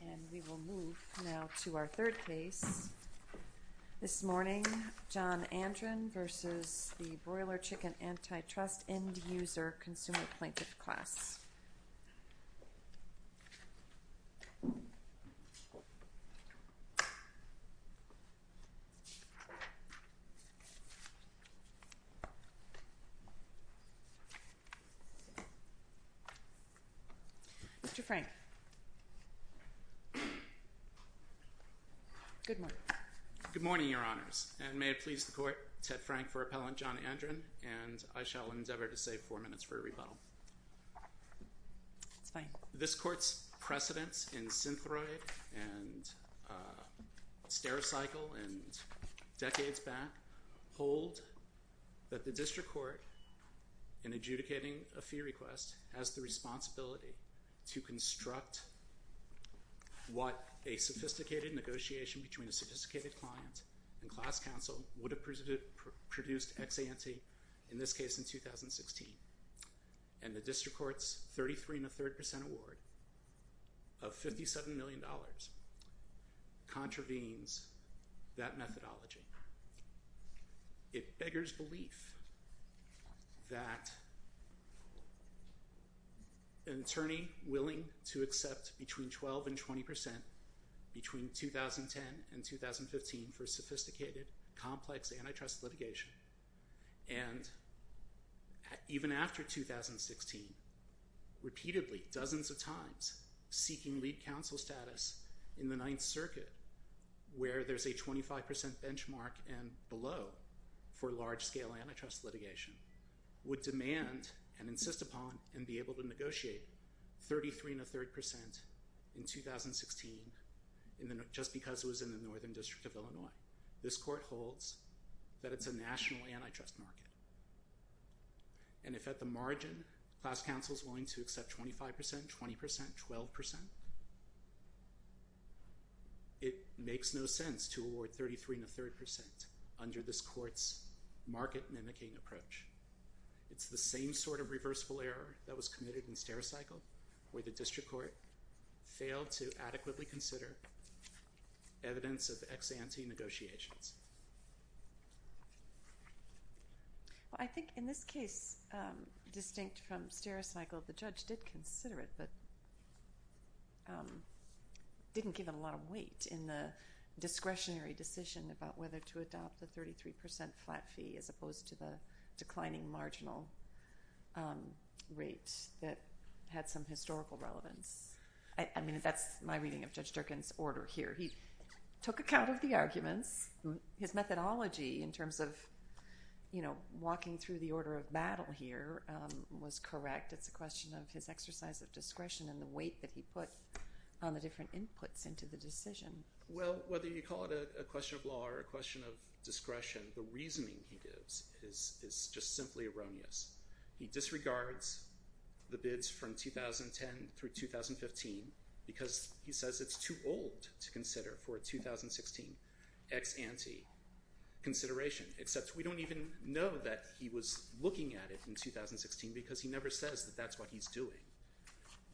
And we will move now to our third case this morning, John Andren v. The Broiler Chicken Antitrust End User Consumer Plaintiff Class. Mr. Frank. Good morning. Good morning, Your Honors, and may it please the Court, Ted Frank for Appellant John Andren, and I shall endeavor to save four minutes for a rebuttal. It's fine. This Court's precedents in Synthroid and Stericycle and decades back hold that the District Court, in adjudicating a fee request, has the responsibility to construct what a sophisticated negotiation between a sophisticated client and class counsel would have produced ex ante, in this case in 2016. And the District Court's 33.3% award of $57 million contravenes that methodology. It beggars belief that an attorney willing to accept between 12% and 20% between 2010 and 2015 for sophisticated, complex antitrust litigation, and even after 2016, repeatedly, dozens of times, seeking lead counsel status in the Ninth Circuit where there's a 25% benchmark and below for large-scale antitrust litigation, would demand and insist upon and be able to negotiate 33.3% in 2016 just because it was in the Northern District of Illinois. This Court holds that it's a national antitrust market. And if at the margin, class counsel is willing to accept 25%, 20%, 12%, it makes no sense to award 33.3% under this Court's market-mimicking approach. It's the same sort of reversible error that was committed in Stericycle, where the District Court failed to adequately consider evidence of ex ante negotiations. Well, I think in this case, distinct from Stericycle, the judge did consider it, but didn't give it a lot of weight in the discretionary decision about whether to adopt the 33% flat fee, as opposed to the declining marginal rate that had some historical relevance. I mean, that's my reading of Judge Durkin's order here. He took account of the arguments. His methodology in terms of walking through the order of battle here was correct. It's a question of his exercise of discretion and the weight that he put on the different inputs into the decision. Well, whether you call it a question of law or a question of discretion, the reasoning he gives is just simply erroneous. He disregards the bids from 2010 through 2015 because he says it's too old to consider for a 2016 ex ante consideration, except we don't even know that he was looking at it in 2016 because he never says that that's what he's doing.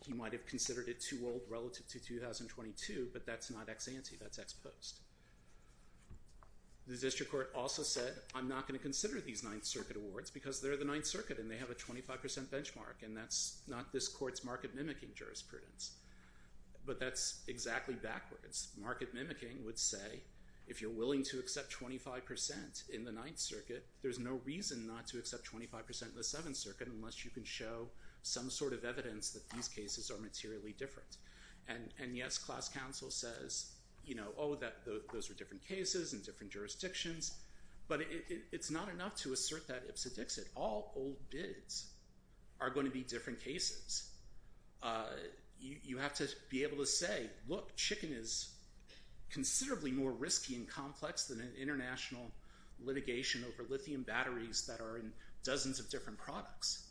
He might have considered it too old relative to 2022, but that's not ex ante, that's ex post. The district court also said, I'm not going to consider these Ninth Circuit awards because they're the Ninth Circuit and they have a 25% benchmark, and that's not this court's market mimicking jurisprudence. But that's exactly backwards. Market mimicking would say, if you're willing to accept 25% in the Ninth Circuit, there's no reason not to accept 25% in the Seventh Circuit unless you can show some sort of evidence that these cases are materially different. And yes, class counsel says, you know, oh, those are different cases in different jurisdictions, but it's not enough to assert that ipsa dixit. All old bids are going to be different cases. You have to be able to say, look, chicken is considerably more risky and complex than an international litigation over lithium batteries that are in dozens of different products.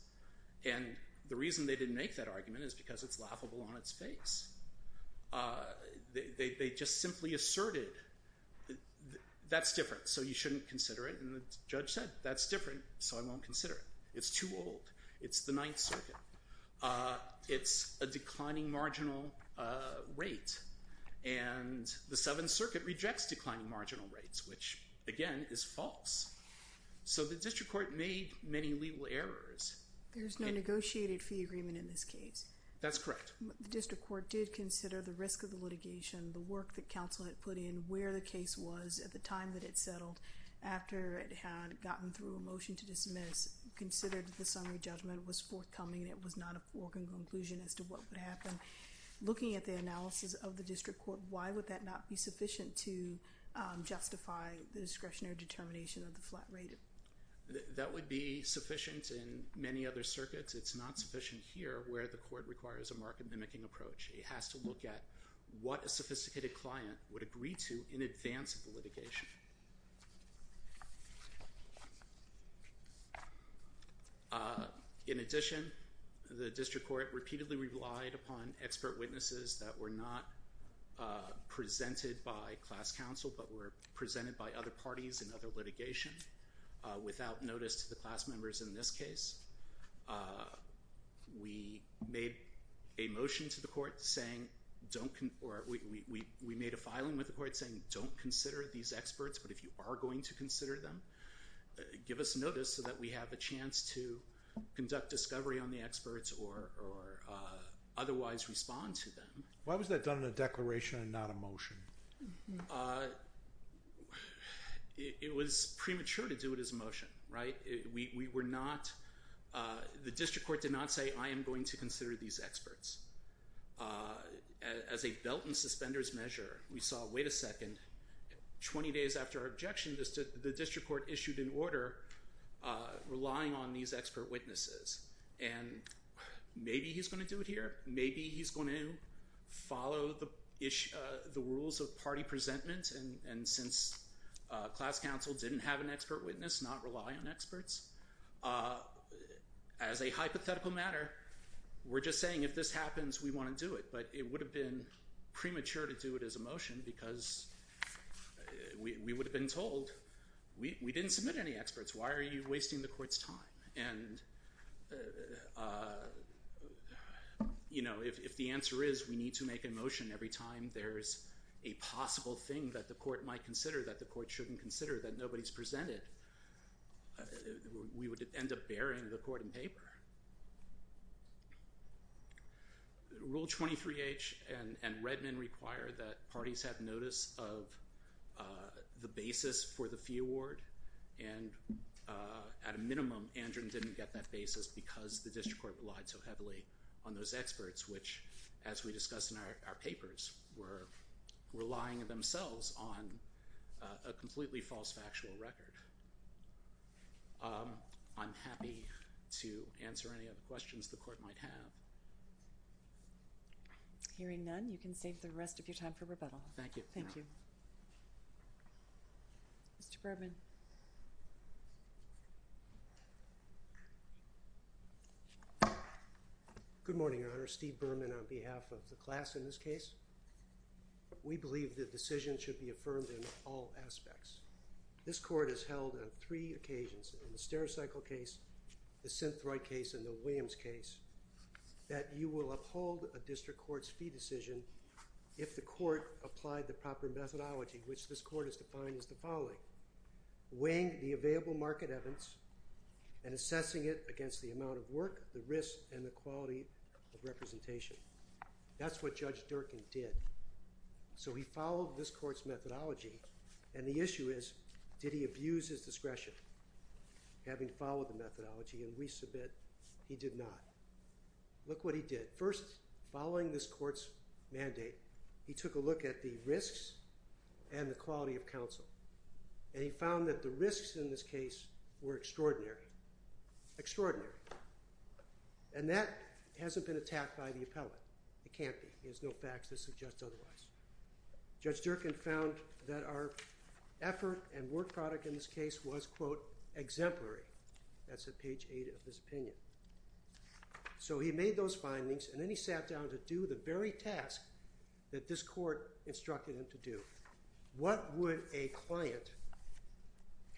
And the reason they didn't make that argument is because it's laughable on its face. They just simply asserted, that's different, so you shouldn't consider it. And the judge said, that's different, so I won't consider it. It's too old. It's the Ninth Circuit. It's a declining marginal rate. And the Seventh Circuit rejects declining marginal rates, which, again, is false. So the district court made many legal errors. There's no negotiated fee agreement in this case. That's correct. The district court did consider the risk of the litigation, the work that counsel had put in, where the case was at the time that it settled, after it had gotten through a motion to dismiss, considered that the summary judgment was forthcoming, and it was not a foregone conclusion as to what would happen. Looking at the analysis of the district court, why would that not be sufficient to justify the discretionary determination of the flat rate? That would be sufficient in many other circuits. It's not sufficient here, where the court requires a market-mimicking approach. It has to look at what a sophisticated client would agree to in advance of the litigation. In addition, the district court repeatedly relied upon expert witnesses that were not presented by class counsel, but were presented by other parties in other litigation, without notice to the class members in this case. We made a motion to the court saying, or we made a filing with the court saying, don't consider these experts, but if you are going to consider them, give us notice so that we have a chance to conduct discovery on the experts or otherwise respond to them. Why was that done in a declaration and not a motion? It was premature to do it as a motion, right? The district court did not say, I am going to consider these experts. As a belt and suspenders measure, we saw, wait a second, 20 days after our objection, the district court issued an order relying on these expert witnesses. Maybe he's going to do it here. Maybe he's going to follow the rules of party presentment, and since class counsel didn't have an expert witness, not rely on experts, as a hypothetical matter, we're just saying if this happens, we want to do it, but it would have been premature to do it as a motion because we would have been told, we didn't submit any experts. Why are you wasting the court's time? And, you know, if the answer is we need to make a motion every time there's a possible thing that the court might consider that the court shouldn't consider that nobody's presented, we would end up burying the court in paper. Rule 23H and Redmond require that parties have notice of the basis for the fee award, and at a minimum, Andrew didn't get that basis because the district court relied so heavily on those experts, which, as we discussed in our papers, were relying themselves on a completely false factual record. I'm happy to answer any other questions the court might have. Hearing none, you can save the rest of your time for rebuttal. Thank you. Thank you. Mr. Berman. Good morning, Your Honor. Steve Berman on behalf of the class in this case. We believe the decision should be affirmed in all aspects. This court has held on three occasions, the Stereocycle case, the Synthroid case, and the Williams case, that you will uphold a district court's fee decision if the court applied the proper methodology, which this court has defined as the following, weighing the available market evidence and assessing it against the amount of work, the risk, and the quality of representation. That's what Judge Durkin did. So he followed this court's methodology, and the issue is did he abuse his discretion, having followed the methodology, and we submit he did not. Look what he did. At first, following this court's mandate, he took a look at the risks and the quality of counsel, and he found that the risks in this case were extraordinary. Extraordinary. And that hasn't been attacked by the appellate. It can't be. There's no facts that suggest otherwise. Judge Durkin found that our effort and work product in this case was, quote, exemplary. That's at page 8 of his opinion. So he made those findings, and then he sat down to do the very task that this court instructed him to do. What would a client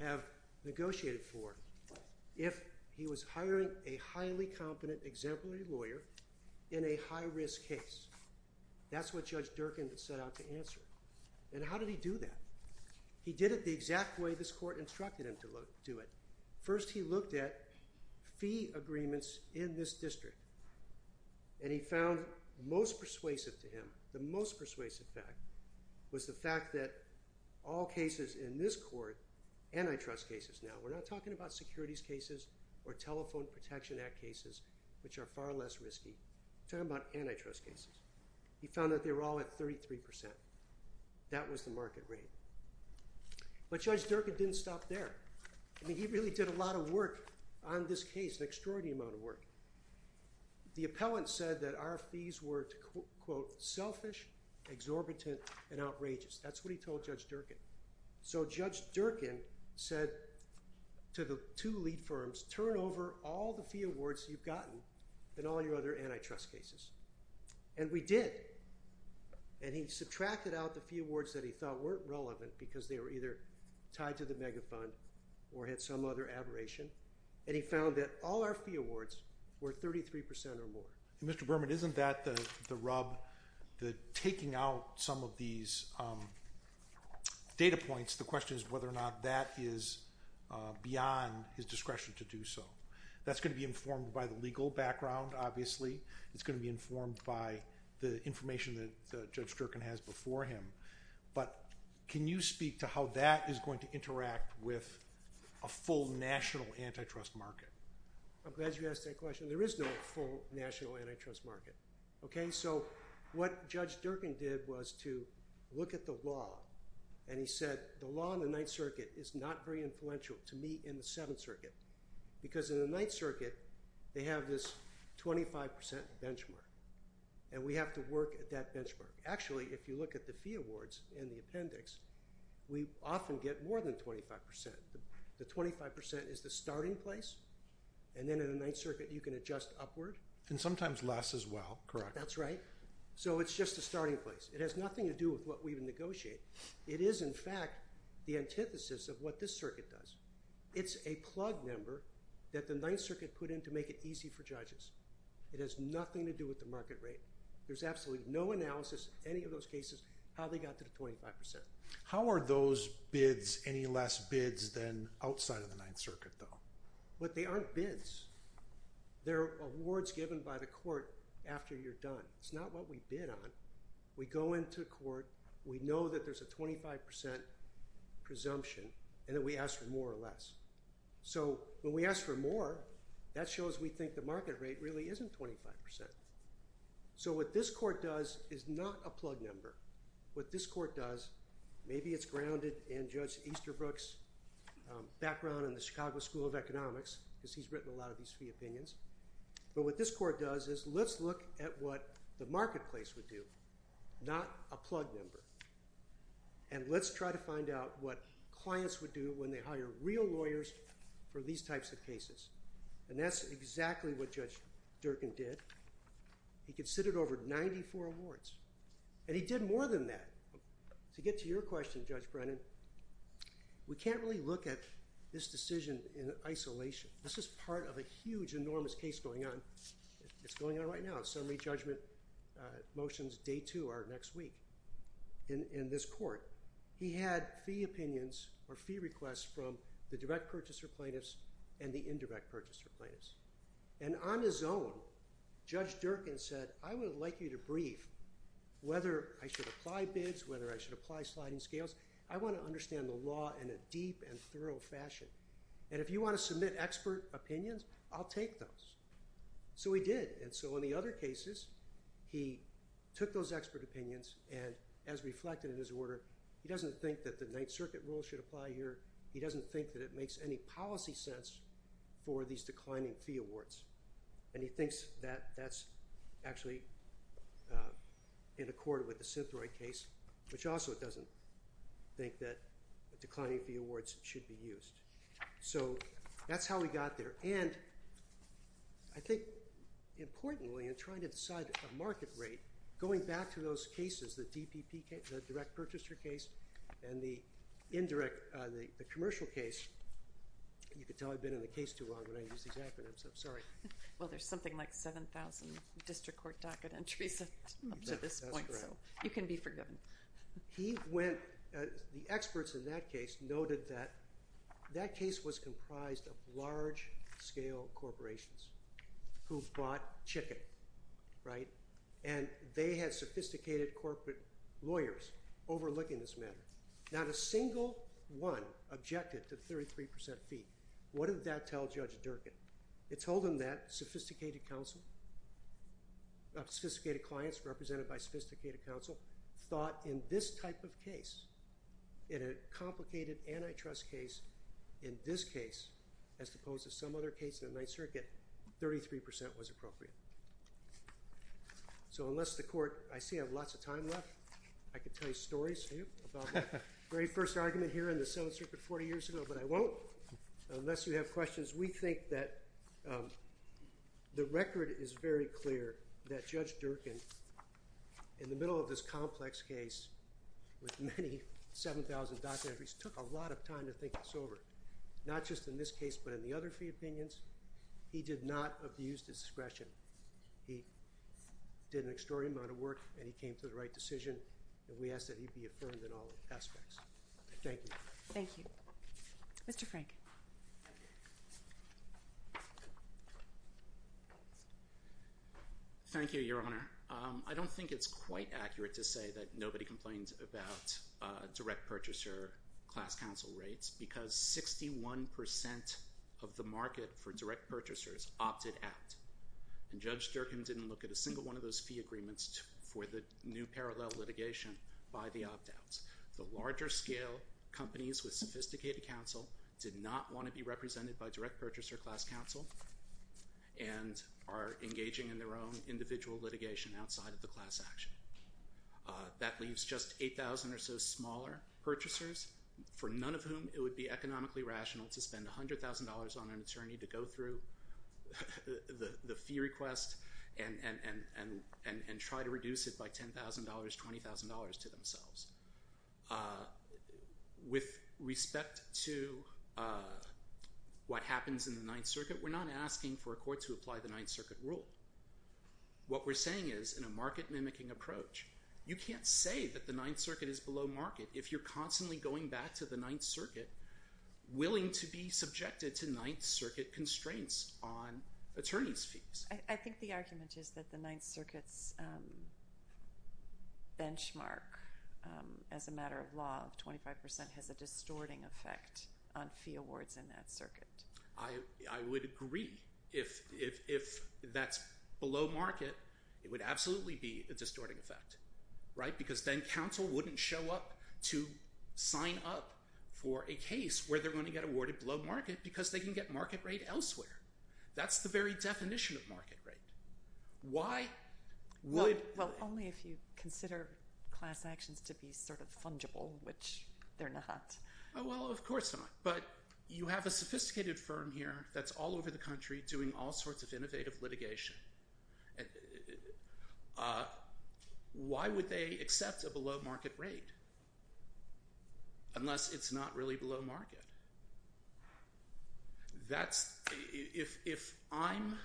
have negotiated for if he was hiring a highly competent exemplary lawyer in a high-risk case? That's what Judge Durkin set out to answer. And how did he do that? He did it the exact way this court instructed him to do it. First, he looked at fee agreements in this district, and he found most persuasive to him, the most persuasive fact was the fact that all cases in this court, antitrust cases now, we're not talking about securities cases or Telephone Protection Act cases, which are far less risky. We're talking about antitrust cases. He found that they were all at 33%. That was the market rate. But Judge Durkin didn't stop there. I mean, he really did a lot of work on this case, an extraordinary amount of work. The appellant said that our fees were, quote, selfish, exorbitant, and outrageous. That's what he told Judge Durkin. So Judge Durkin said to the two lead firms, turn over all the fee awards you've gotten and all your other antitrust cases. And we did. And he subtracted out the fee awards that he thought weren't relevant because they were either tied to the mega fund or had some other aberration. And he found that all our fee awards were 33% or more. Mr. Berman, isn't that the rub, taking out some of these data points, the question is whether or not that is beyond his discretion to do so. That's going to be informed by the legal background, obviously. It's going to be informed by the information that Judge Durkin has before him. But can you speak to how that is going to interact with a full national antitrust market? I'm glad you asked that question. There is no full national antitrust market. So what Judge Durkin did was to look at the law. And he said the law in the Ninth Circuit is not very influential to me in the Seventh Circuit because in the Ninth Circuit they have this 25% benchmark. And we have to work at that benchmark. Actually, if you look at the fee awards in the appendix, we often get more than 25%. The 25% is the starting place, and then in the Ninth Circuit you can adjust upward. And sometimes less as well, correct? That's right. So it's just the starting place. It has nothing to do with what we even negotiate. It is, in fact, the antithesis of what this circuit does. It's a plug number that the Ninth Circuit put in to make it easy for judges. It has nothing to do with the market rate. There's absolutely no analysis in any of those cases how they got to the 25%. How are those bids any less bids than outside of the Ninth Circuit, though? But they aren't bids. They're awards given by the court after you're done. It's not what we bid on. We go into court. We know that there's a 25% presumption, and then we ask for more or less. So when we ask for more, that shows we think the market rate really isn't 25%. So what this court does is not a plug number. What this court does, maybe it's grounded in Judge Easterbrook's background in the Chicago School of Economics because he's written a lot of these free opinions. But what this court does is let's look at what the marketplace would do, not a plug number. And let's try to find out what clients would do when they hire real lawyers for these types of cases. And that's exactly what Judge Durkin did. He considered over 94 awards. And he did more than that. To get to your question, Judge Brennan, we can't really look at this decision in isolation. This is part of a huge, enormous case going on. It's going on right now. Summary judgment motions day two are next week in this court. He had fee opinions or fee requests from the direct purchaser plaintiffs and the indirect purchaser plaintiffs. And on his own, Judge Durkin said, I would like you to brief whether I should apply bids, whether I should apply sliding scales. I want to understand the law in a deep and thorough fashion. And if you want to submit expert opinions, I'll take those. So he did. And so in the other cases, he took those expert opinions and, as reflected in his order, he doesn't think that the Ninth Circuit rule should apply here. He doesn't think that it makes any policy sense for these declining fee awards. And he thinks that that's actually in accord with the Synthroid case, which also doesn't think that declining fee awards should be used. So that's how we got there. And I think, importantly, in trying to decide a market rate, going back to those cases, the DPP case, the direct purchaser case, and the commercial case, you can tell I've been in the case too long when I use these acronyms. I'm sorry. Well, there's something like 7,000 district court docket entries up to this point, so you can be forgiven. He went, the experts in that case, noted that that case was comprised of large-scale corporations who bought chicken, right? And they had sophisticated corporate lawyers overlooking this matter. Not a single one objected to the 33% fee. What did that tell Judge Durkin? It told him that sophisticated counsel, sophisticated clients represented by sophisticated counsel, thought in this type of case, in a complicated antitrust case, in this case, as opposed to some other case in the Ninth Circuit, 33% was appropriate. So unless the court, I see I have lots of time left, I could tell you stories about the very first argument here in the Seventh Circuit 40 years ago, but I won't. Unless you have questions, we think that the record is very clear that Judge Durkin, in the middle of this complex case, with many 7,000 docket entries, took a lot of time to think this over. Not just in this case, but in the other fee opinions, he did not abuse discretion. He did an extraordinary amount of work, and he came to the right decision, and we ask that he be affirmed in all aspects. Thank you. Thank you. Mr. Frank. Thank you, Your Honor. I don't think it's quite accurate to say that nobody complains about direct purchaser class counsel rates, because 61% of the market for direct purchasers opted out. And Judge Durkin didn't look at a single one of those fee agreements for the new parallel litigation by the opt-outs. The larger scale companies with sophisticated counsel did not want to be represented by direct purchaser class counsel, and are engaging in their own individual litigation outside of the class action. That leaves just 8,000 or so smaller purchasers, for none of whom it would be economically rational to spend $100,000 on an attorney to go through the fee request and try to reduce it by $10,000, $20,000 to themselves. With respect to what happens in the Ninth Circuit, we're not asking for a court to apply the Ninth Circuit rule. What we're saying is, in a market mimicking approach, you can't say that the Ninth Circuit is below market if you're constantly going back to the Ninth Circuit, willing to be subjected to Ninth Circuit constraints on attorneys' fees. I think the argument is that the Ninth Circuit's benchmark, as a matter of law, of 25% has a distorting effect on fee awards in that circuit. I would agree. If that's below market, it would absolutely be a distorting effect, right? Because then counsel wouldn't show up to sign up for a case where they're going to get awarded below market because they can get market rate elsewhere. That's the very definition of market rate. Why would... Well, only if you consider class actions to be sort of fungible, which they're not. Well, of course not. But you have a sophisticated firm here that's all over the country doing all sorts of innovative litigation. Why would they accept a below market rate? Unless it's not really below market. That's... If I'm...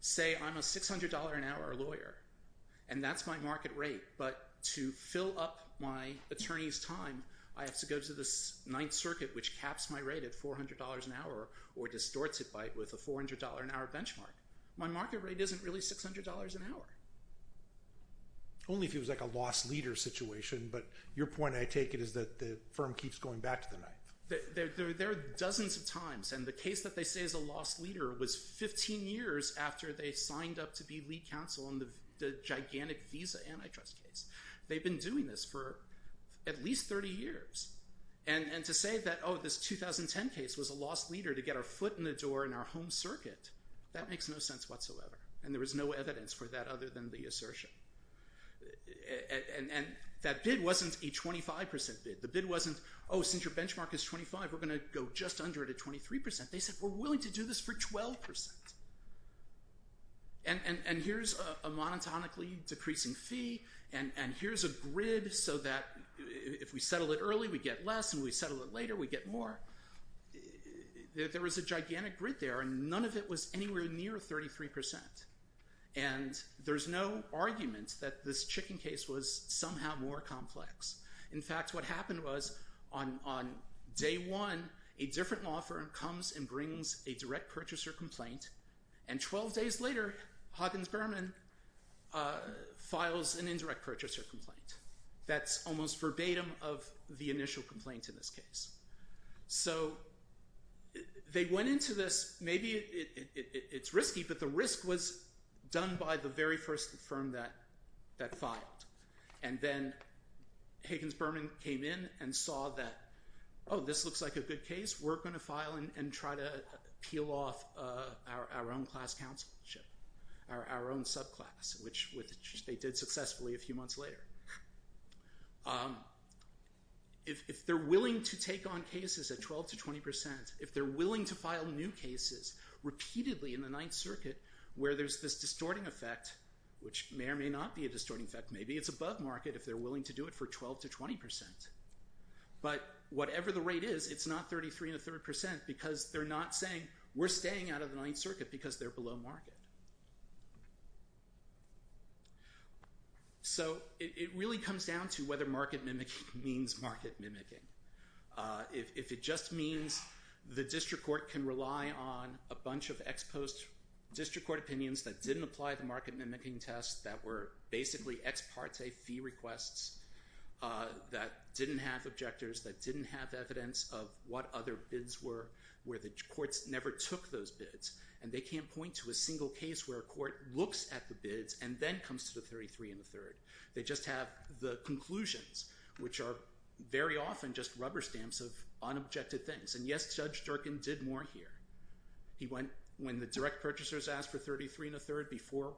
Say I'm a $600 an hour lawyer, and that's my market rate, but to fill up my attorney's time, I have to go to the Ninth Circuit, which caps my rate at $400 an hour or distorts it with a $400 an hour benchmark. My market rate isn't really $600 an hour. Only if it was like a lost leader situation, but your point, I take it, is that the firm keeps going back to the Ninth. There are dozens of times, and the case that they say is a lost leader was 15 years after they signed up to be lead counsel on the gigantic Visa antitrust case. They've been doing this for at least 30 years. And to say that, oh, this 2010 case was a lost leader to get our foot in the door in our home circuit, that makes no sense whatsoever, and there is no evidence for that other than the assertion. And that bid wasn't a 25% bid. The bid wasn't, oh, since your benchmark is 25, we're going to go just under it at 23%. They said, we're willing to do this for 12%. And here's a monotonically decreasing fee, and here's a grid so that if we settle it early, we get less, and we settle it later, we get more. There was a gigantic grid there, and none of it was anywhere near 33%. And there's no argument that this chicken case was somehow more complex. In fact, what happened was on day one, a different law firm comes and brings a direct purchaser complaint, and 12 days later, Huggins-Berman files an indirect purchaser complaint. That's almost verbatim of the initial complaint in this case. So they went into this, maybe it's risky, but the risk was done by the very first firm that filed. And then Huggins-Berman came in and saw that, oh, this looks like a good case. We're going to file and try to peel off our own class counselship, our own subclass, which they did successfully a few months later. If they're willing to take on cases at 12 to 20%, if they're willing to file new cases repeatedly in the Ninth Circuit where there's this distorting effect, which may or may not be a distorting effect, maybe it's above market if they're willing to do it for 12 to 20%. But whatever the rate is, it's not 33 and a third percent because they're not saying, we're staying out of the Ninth Circuit because they're below market. So it really comes down to whether market mimicking means market mimicking. If it just means the district court can rely on a bunch of ex post district court opinions that didn't apply the market mimicking test that were basically ex parte fee requests that didn't have objectors, that didn't have evidence of what other bids were, where the courts never took those bids, and they can't point to a single case where a court looks at the bids and then comes to the 33 and a third. They just have the conclusions, which are very often just rubber stamps of unobjected things. And yes, Judge Durkin did more here. When the direct purchasers asked for 33 and a third before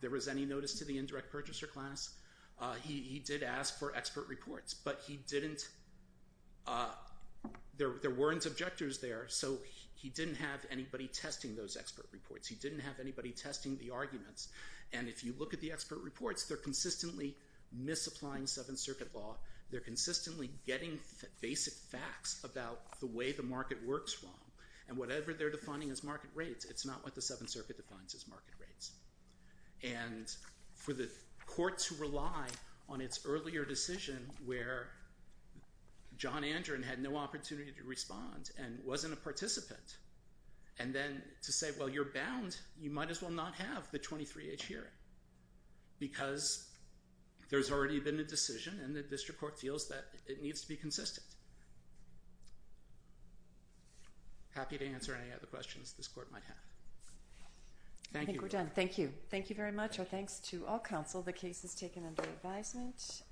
there was any notice to the indirect purchaser class, he did ask for expert reports, but there weren't objectors there, so he didn't have anybody testing those expert reports. He didn't have anybody testing the arguments, and if you look at the expert reports, they're consistently misapplying Seventh Circuit law. They're consistently getting basic facts about the way the market works wrong, and whatever they're defining as market rates, it's not what the Seventh Circuit defines as market rates. And for the court to rely on its earlier decision where John Andrew had no opportunity to respond and wasn't a participant, and then to say, well, you're bound, you might as well not have the 23H hearing because there's already been a decision and the district court feels that it needs to be consistent. Happy to answer any other questions this court might have. Thank you. I think we're done. Thank you. Thank you very much. Our thanks to all counsel. The case is taken under advisement.